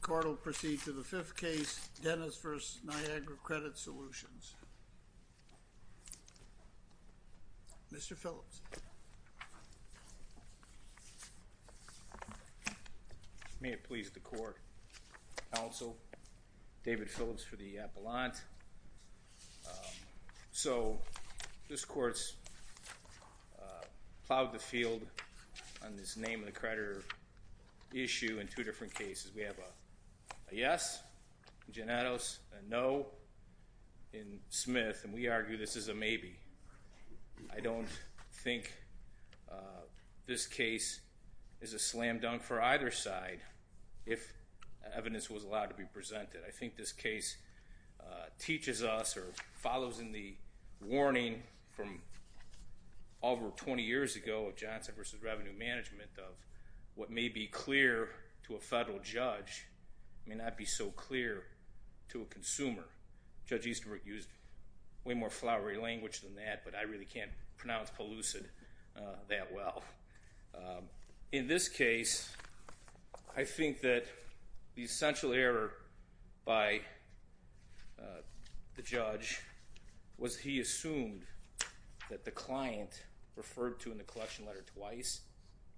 Court will proceed to the fifth case, Dennis v. Niagara Credit Solutions. Mr. Phillips. May it please the court, counsel, David Phillips for the appellant. So this field on this name of the creditor issue in two different cases. We have a yes, a no in Smith and we argue this is a maybe. I don't think this case is a slam dunk for either side if evidence was allowed to be presented. I think this case teaches us or follows in the warning from over 20 years ago of Johnson v. Revenue Management of what may be clear to a federal judge may not be so clear to a consumer. Judge Easterbrook used way more flowery language than that, but I really can't pronounce pellucid that well. In this case, I think that the essential error by the judge was he assumed that the client referred to in the collection letter twice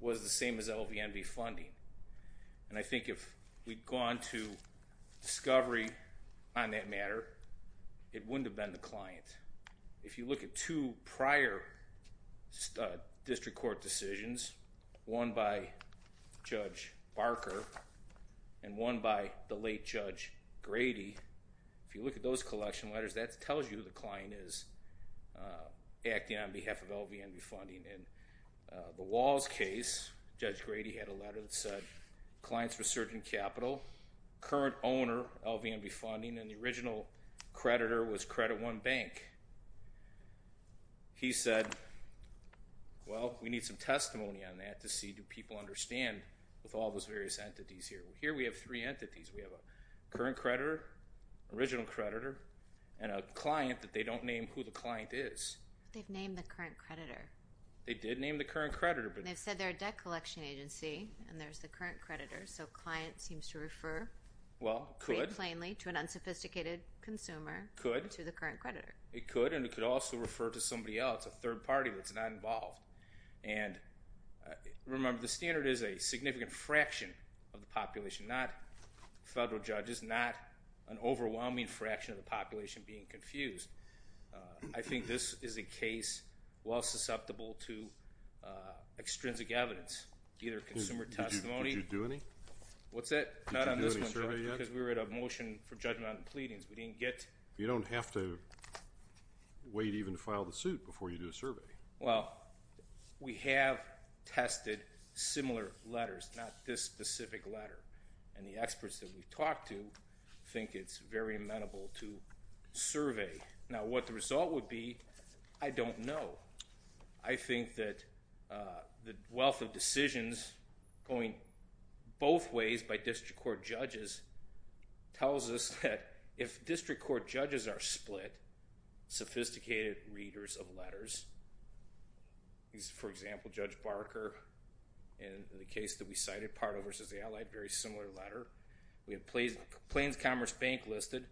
was the same as LVNV funding. And I think if we'd gone to discovery on that matter, it wouldn't have been the client. If you look at two prior district court decisions, one by Judge Barker and one by the late Judge Grady, if you look at those collection letters, that tells you the client is acting on behalf of LVNV funding. In the Walls case, Judge Grady had a letter that said clients were surging capital, current owner LVNV funding, and the on that to see do people understand with all those various entities here. Here we have three entities. We have a current creditor, original creditor, and a client that they don't name who the client is. They've named the current creditor. They did name the current creditor. They've said they're a debt collection agency and there's the current creditor, so client seems to refer pretty plainly to an unsophisticated consumer to the current creditor. It could, and it could also refer to somebody else, a third party that's not involved. And remember, the standard is a significant fraction of the population, not federal judges, not an overwhelming fraction of the population being confused. I think this is a case well susceptible to extrinsic evidence, either consumer testimony. Did you do any? What's that? Not on this one because we were at a motion for you to even file the suit before you do a survey. Well, we have tested similar letters, not this specific letter, and the experts that we've talked to think it's very amenable to survey. Now what the result would be, I don't know. I think that the wealth of decisions going both ways by district court judges are split, sophisticated readers of letters. For example, Judge Barker in the case that we cited, Pardo versus the Allied, very similar letter. We have Plains Commerce Bank listed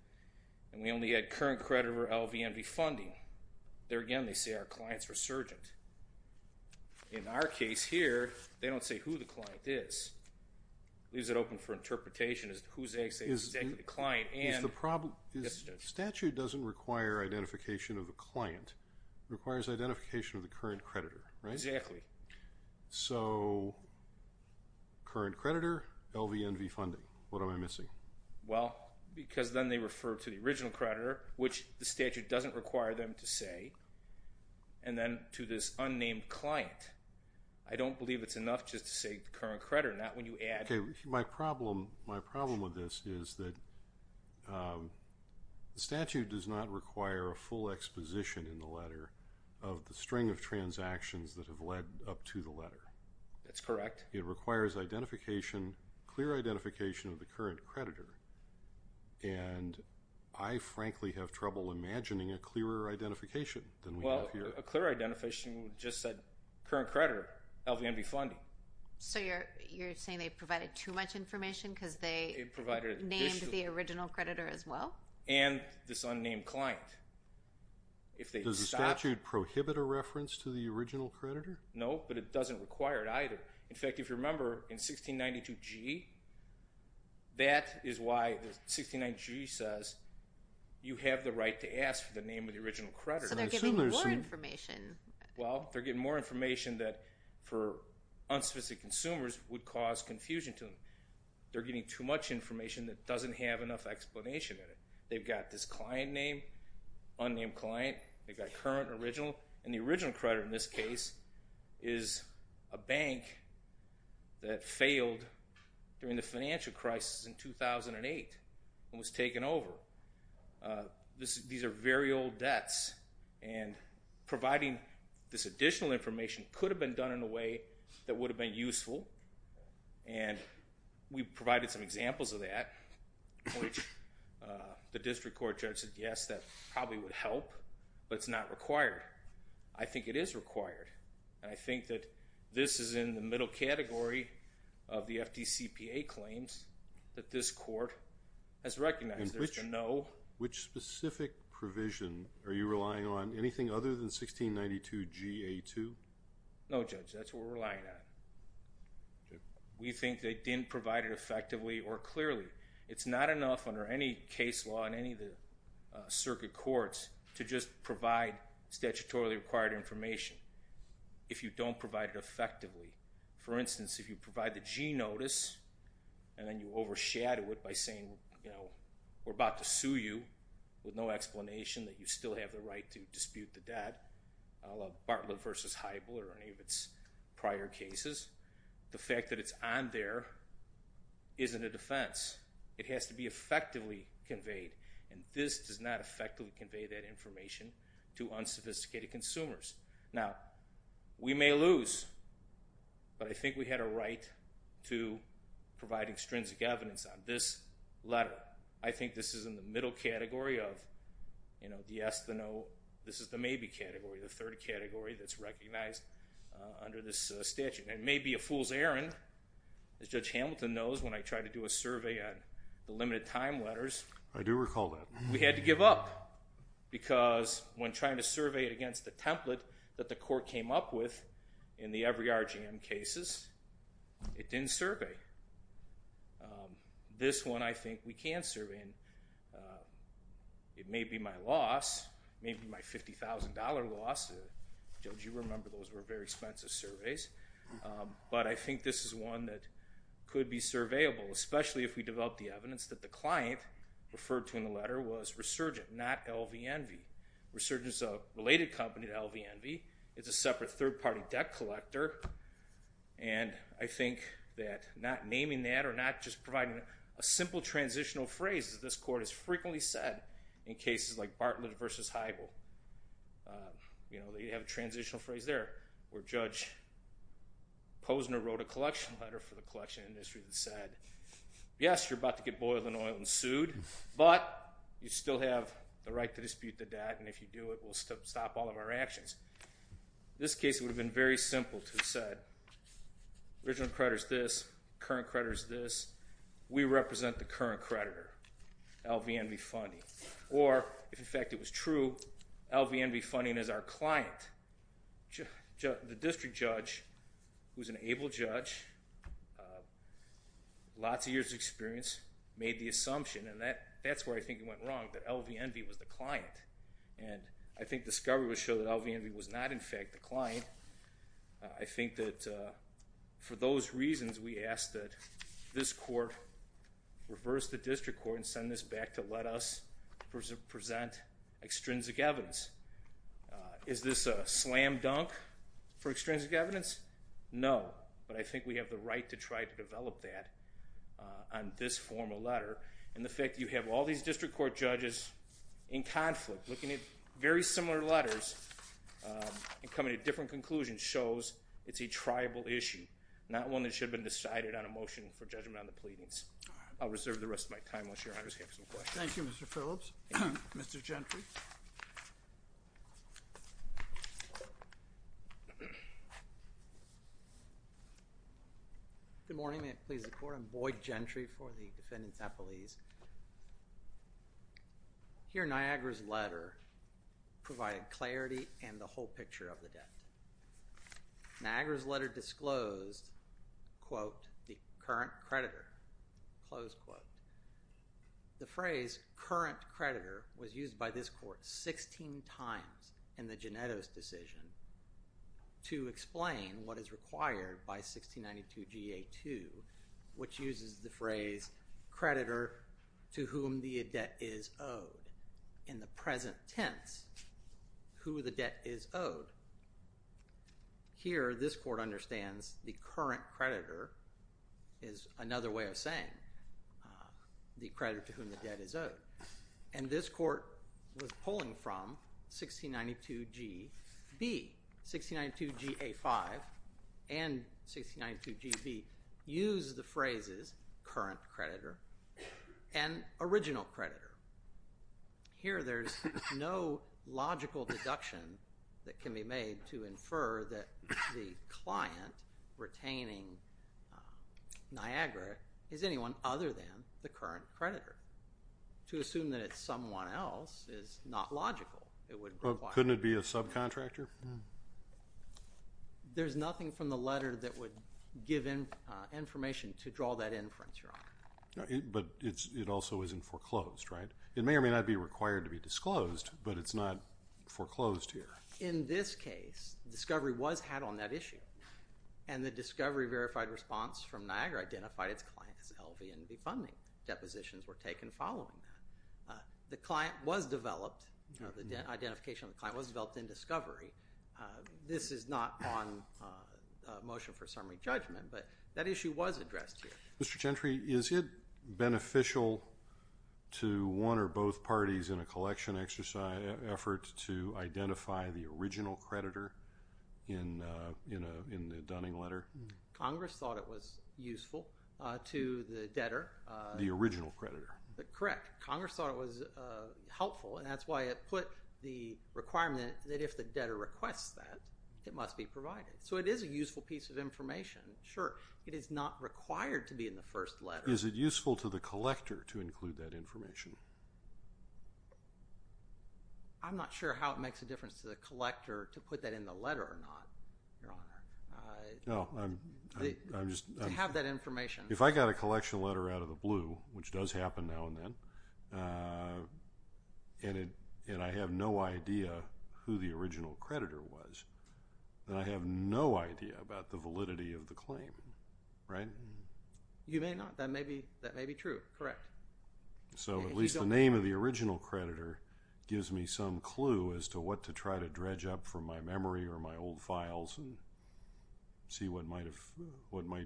and we only had current creditor LVMV funding. There again, they say our client's resurgent. In our case here, they don't say who the client is. Leaves it open for interpretation as to who's exactly the client. Statute doesn't require identification of a client. It requires identification of the current creditor, right? Exactly. So current creditor, LVMV funding. What am I missing? Well, because then they refer to the original creditor, which the statute doesn't require them to say, and then to this unnamed client. I don't believe it's enough just to say current creditor, not when you add. My problem with this is that the statute does not require a full exposition in the letter of the string of transactions that have led up to the letter. That's correct. It requires identification, clear identification of the current creditor. And I frankly have trouble imagining a clearer identification than we have here. Well, a clear you're saying they provided too much information because they provided the original creditor as well? And this unnamed client. Does the statute prohibit a reference to the original creditor? No, but it doesn't require it either. In fact, if you remember in 1692G, that is why the 1692G says you have the right to ask for the name of the original creditor. So they're giving more information that, for unsophisticated consumers, would cause confusion to them. They're getting too much information that doesn't have enough explanation in it. They've got this client name, unnamed client, they've got current and original, and the original creditor in this case is a bank that failed during the financial crisis in 2008 and was taken over. These are very old debts and providing this additional information could have been done in a way that would have been useful. And we provided some examples of that, which the district court judge said, yes, that probably would help, but it's not required. I think it is required. And I think that this is in the middle category of the FDCPA claims that this court has recognized there's a no. Which specific provision are you referring to, 1692GA2? No, Judge, that's what we're relying on. We think they didn't provide it effectively or clearly. It's not enough under any case law in any of the circuit courts to just provide statutorily required information if you don't provide it effectively. For instance, if you provide the G notice and then you overshadow it by saying, you know, we're about to sue you with no explanation that you still have the right to dispute the debt, a la Bartlett v. Heibl or any of its prior cases, the fact that it's on there isn't a defense. It has to be effectively conveyed. And this does not effectively convey that information to unsophisticated consumers. Now, we may lose, but I think we had a right to provide extrinsic evidence on this letter. I think this is in the middle category of, you know, the yes, the no. This is the maybe category, the third category that's recognized under this statute. And it may be a fool's errand, as Judge Hamilton knows, when I try to do a survey on the limited time letters. I do recall that. We had to give up because when trying to survey it against the template that the court came up with in the every RGM cases, it didn't survey. This one I think we can survey. It may be my loss, maybe my $50,000 loss. Judge, you remember those were very expensive surveys. But I think this is one that could be surveyable, especially if we develop the evidence that the client referred to in the letter was Resurgence, a related company to LVNV. It's a separate third-party debt collector. And I think that not naming that or not just providing a simple transitional phrase, as this court has frequently said in cases like Bartlett v. Heibel, you know, they have a transitional phrase there where Judge Posner wrote a collection letter for the collection industry that said, yes, you're about to do it, we'll stop all of our actions. This case would have been very simple to have said, original creditor's this, current creditor's this, we represent the current creditor, LVNV funding. Or, if in fact it was true, LVNV funding is our client. The district judge, who's an able judge, lots of years of experience, made the assumption, and that's where I think it went wrong, that LVNV was the client. I think discovery would show that LVNV was not, in fact, the client. I think that for those reasons, we ask that this court reverse the district court and send this back to let us present extrinsic evidence. Is this a slam dunk for extrinsic evidence? No. But I think we have the right to try to develop that on this formal letter. And the fact that you have all these district court judges in very similar letters, and coming to different conclusions, shows it's a triable issue, not one that should have been decided on a motion for judgment on the pleadings. I'll reserve the rest of my time, unless your honors have some questions. Thank you, Mr. Phillips. Mr. Gentry. Good morning. May it please the Court. I'm Boyd Gentry for the defendants' appellees. Here, Niagara's letter provided clarity and the whole picture of the court 16 times in the Genetto's decision to explain what is required by 1692 GA2, which uses the phrase, creditor to whom the debt is owed, in the present tense, who the debt is owed. Here, this court understands the current creditor is another way of saying the creditor to whom the debt is owed. The court was pulling from 1692 G.B. 1692 GA5 and 1692 G.B. use the phrases current creditor and original creditor. Here, there's no logical deduction that can be made to infer that the client retaining Niagara is anyone other than the current creditor. To assume that it's someone else is not logical. Couldn't it be a subcontractor? There's nothing from the letter that would give information to draw that inference, your honor. But it also isn't foreclosed, right? It may or may not be required to be disclosed, but it's not foreclosed here. In this case, discovery was had on that client was developed, the identification of the client was developed in discovery. This is not on motion for summary judgment, but that issue was addressed here. Mr. Gentry, is it beneficial to one or both parties in a collection exercise effort to identify the original creditor in the Dunning letter? Congress thought it was useful to the debtor. The original creditor. Correct. Congress thought it was helpful, and that's why it put the requirement that if the debtor requests that, it must be provided. So, it is a useful piece of information. Sure, it is not required to be in the first letter. Is it useful to the collector to include that information? I'm not sure how it makes a difference to the collector to put that in the letter or not, your honor, to have that information. If I got a collection letter out of the blue, which does happen now and then, and I have no idea who the original creditor was, then I have no idea about the validity of the claim, right? You may not. That may be true, correct. So, at least the name of the original creditor gives me some clue as to what to try to dredge up from my memory or my old files and see what might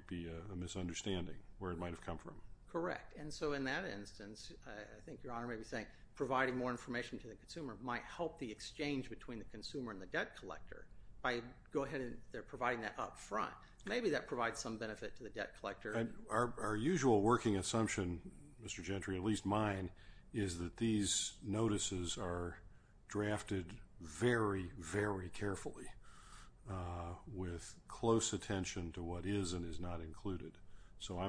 be a misunderstanding, where it might have come from. Correct. And so, in that instance, I think your honor may be saying providing more information to the consumer might help the exchange between the consumer and the debt collector by go ahead and providing that up front. Maybe that provides some benefit to the debt collector. Our usual working assumption, Mr. Gentry, at least mine, is that these notices are drafted very, very carefully with close attention to what is and is not included. So,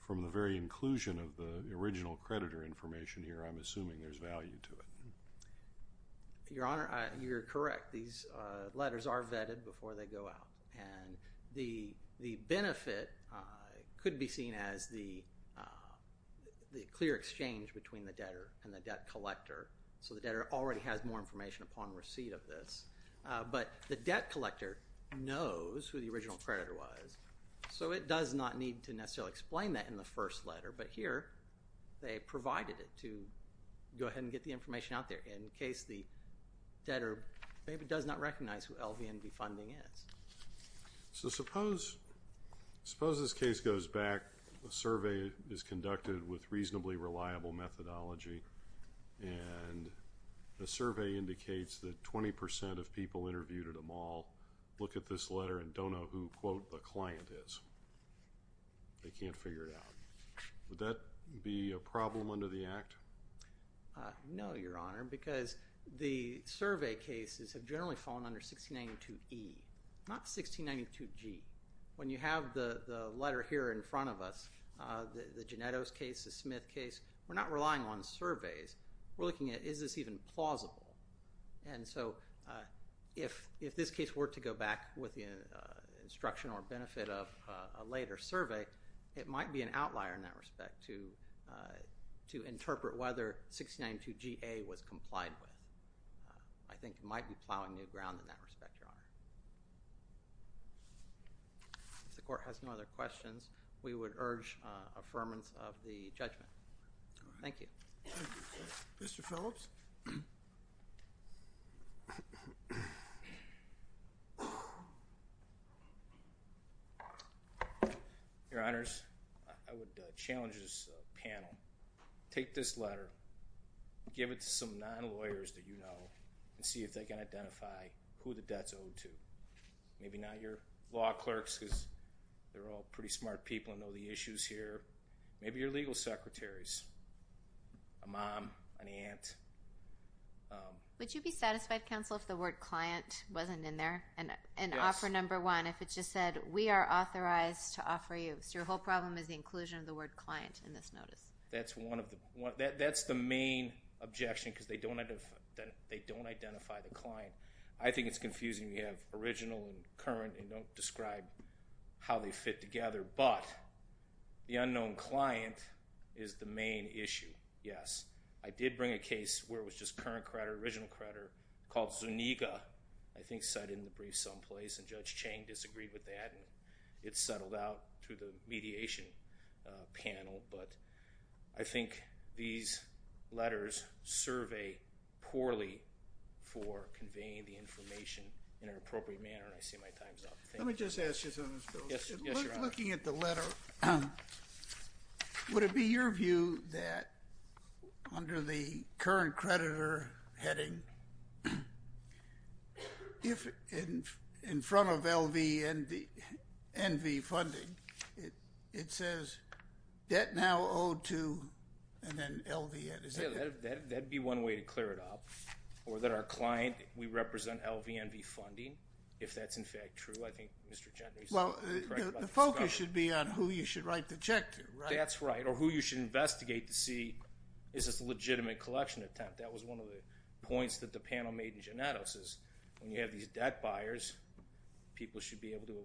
from the very inclusion of the original creditor information here, I'm assuming there's value to it. Your honor, you're correct. These letters are vetted before they go out. And the benefit could be seen as the clear exchange between the debtor and the debt collector. So, the debtor already has more information upon receipt of this. But the debt collector knows who the original creditor was, so it does not need to necessarily explain that in the first letter. But here, they provided it to go ahead and get the information out there in case the debtor maybe does not recognize who LVNV funding is. So, suppose this case goes back, a survey is conducted with reasonably reliable methodology, and the survey indicates that 20% of people interviewed at a mall look at this letter and don't know who, quote, the client is. They can't figure it out. Would that be a problem under the Act? No, your honor, because the survey cases have generally fallen under 1692E. Not 1692G. When you have the letter here in front of us, the Genettos case, the Smith case, we're not relying on surveys. We're looking at, is this even plausible? And so, if this case were to go back with the instruction or benefit of a later survey, it might be an outlier in that respect to interpret whether 1692GA was complied with. I think it might be plowing new ground in that respect, your honor. If the court has no other questions, we would urge affirmance of the judgment. Thank you. Mr. Phillips? Your honors, I would challenge this panel. Take this letter. Give it to some non-lawyers that you know and see if they can identify who the debt's owed to. Maybe not your law clerks, because they're all pretty smart people and know the issues here. Maybe your legal secretaries, a mom, an aunt. Would you be satisfied, counsel, if the word client wasn't in there? And offer number one, if it just said, we are authorized to offer you. So your whole problem is the inclusion of the word client in this notice. That's the main objection, because they don't identify the client. I think it's confusing. We have original and current, and don't describe how they fit together. But the unknown client is the main issue. Yes, I did bring a case where it was just current creditor, original creditor, called Zuniga, I think cited in the brief someplace. And Judge Chang disagreed with that, and it settled out through the mediation panel. But I think these letters survey poorly for conveying the information in an appropriate manner. I see my time's up. Let me just ask you something, Phil. Yes, Your Honor. Looking at the letter, would it be your view that under the current creditor heading, if in front of LVNV funding, it says, debt now owed to, and then LVNV. Yeah, that'd be one way to clear it up. Or that our client, we represent LVNV funding, if that's in fact true. I think Mr. Gendry's correct about the discovery. Well, the focus should be on who you should write the check to, right? That's right. Or who you should investigate to see, is this a legitimate collection attempt? That was one of the points that the panel made in Genetos, is when you have these debt buyers, people should be able to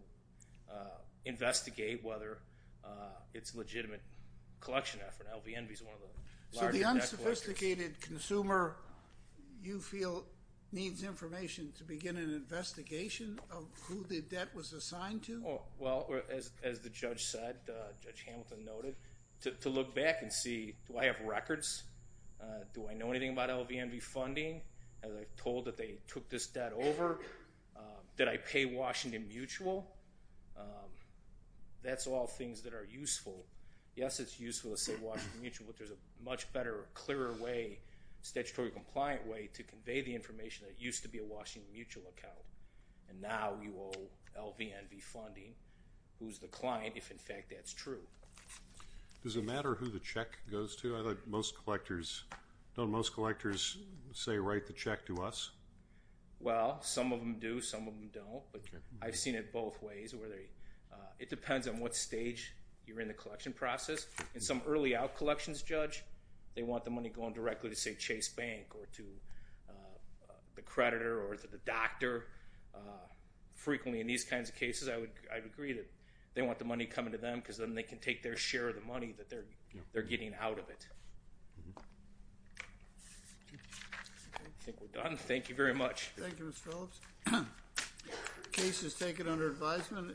investigate whether it's a legitimate collection effort. LVNV's one of the larger debt collectors. So the unsophisticated consumer, you feel, needs information to begin an investigation of who the debt was assigned to? Well, as the judge said, Judge Hamilton noted, to look back and see, do I have records? Do I know anything about LVNV funding? Have I been told that they took this debt over? Did I pay Washington Mutual? That's all things that are useful. Yes, it's useful to say Washington Mutual, but there's a much better, clearer way, statutory compliant way to convey the information that it used to be a Washington Mutual account. And now you owe LVNV funding, who's the client, if in fact that's true. Does it matter who the check goes to? Most collectors, don't most collectors say write the check to us? Well, some of them do, some of them don't, but I've seen it both ways. It depends on what stage you're in the collection process. In some early out collections, Judge, they want the money going directly to, say, Chase Bank, or to the creditor, or to the doctor. Frequently in these kinds of cases, I would agree that they want the money coming to them, because then they can take their share of the money that they're getting out of it. I think we're done. Thank you very much. Thank you, Mr. Phillips. Case is taken under advisement.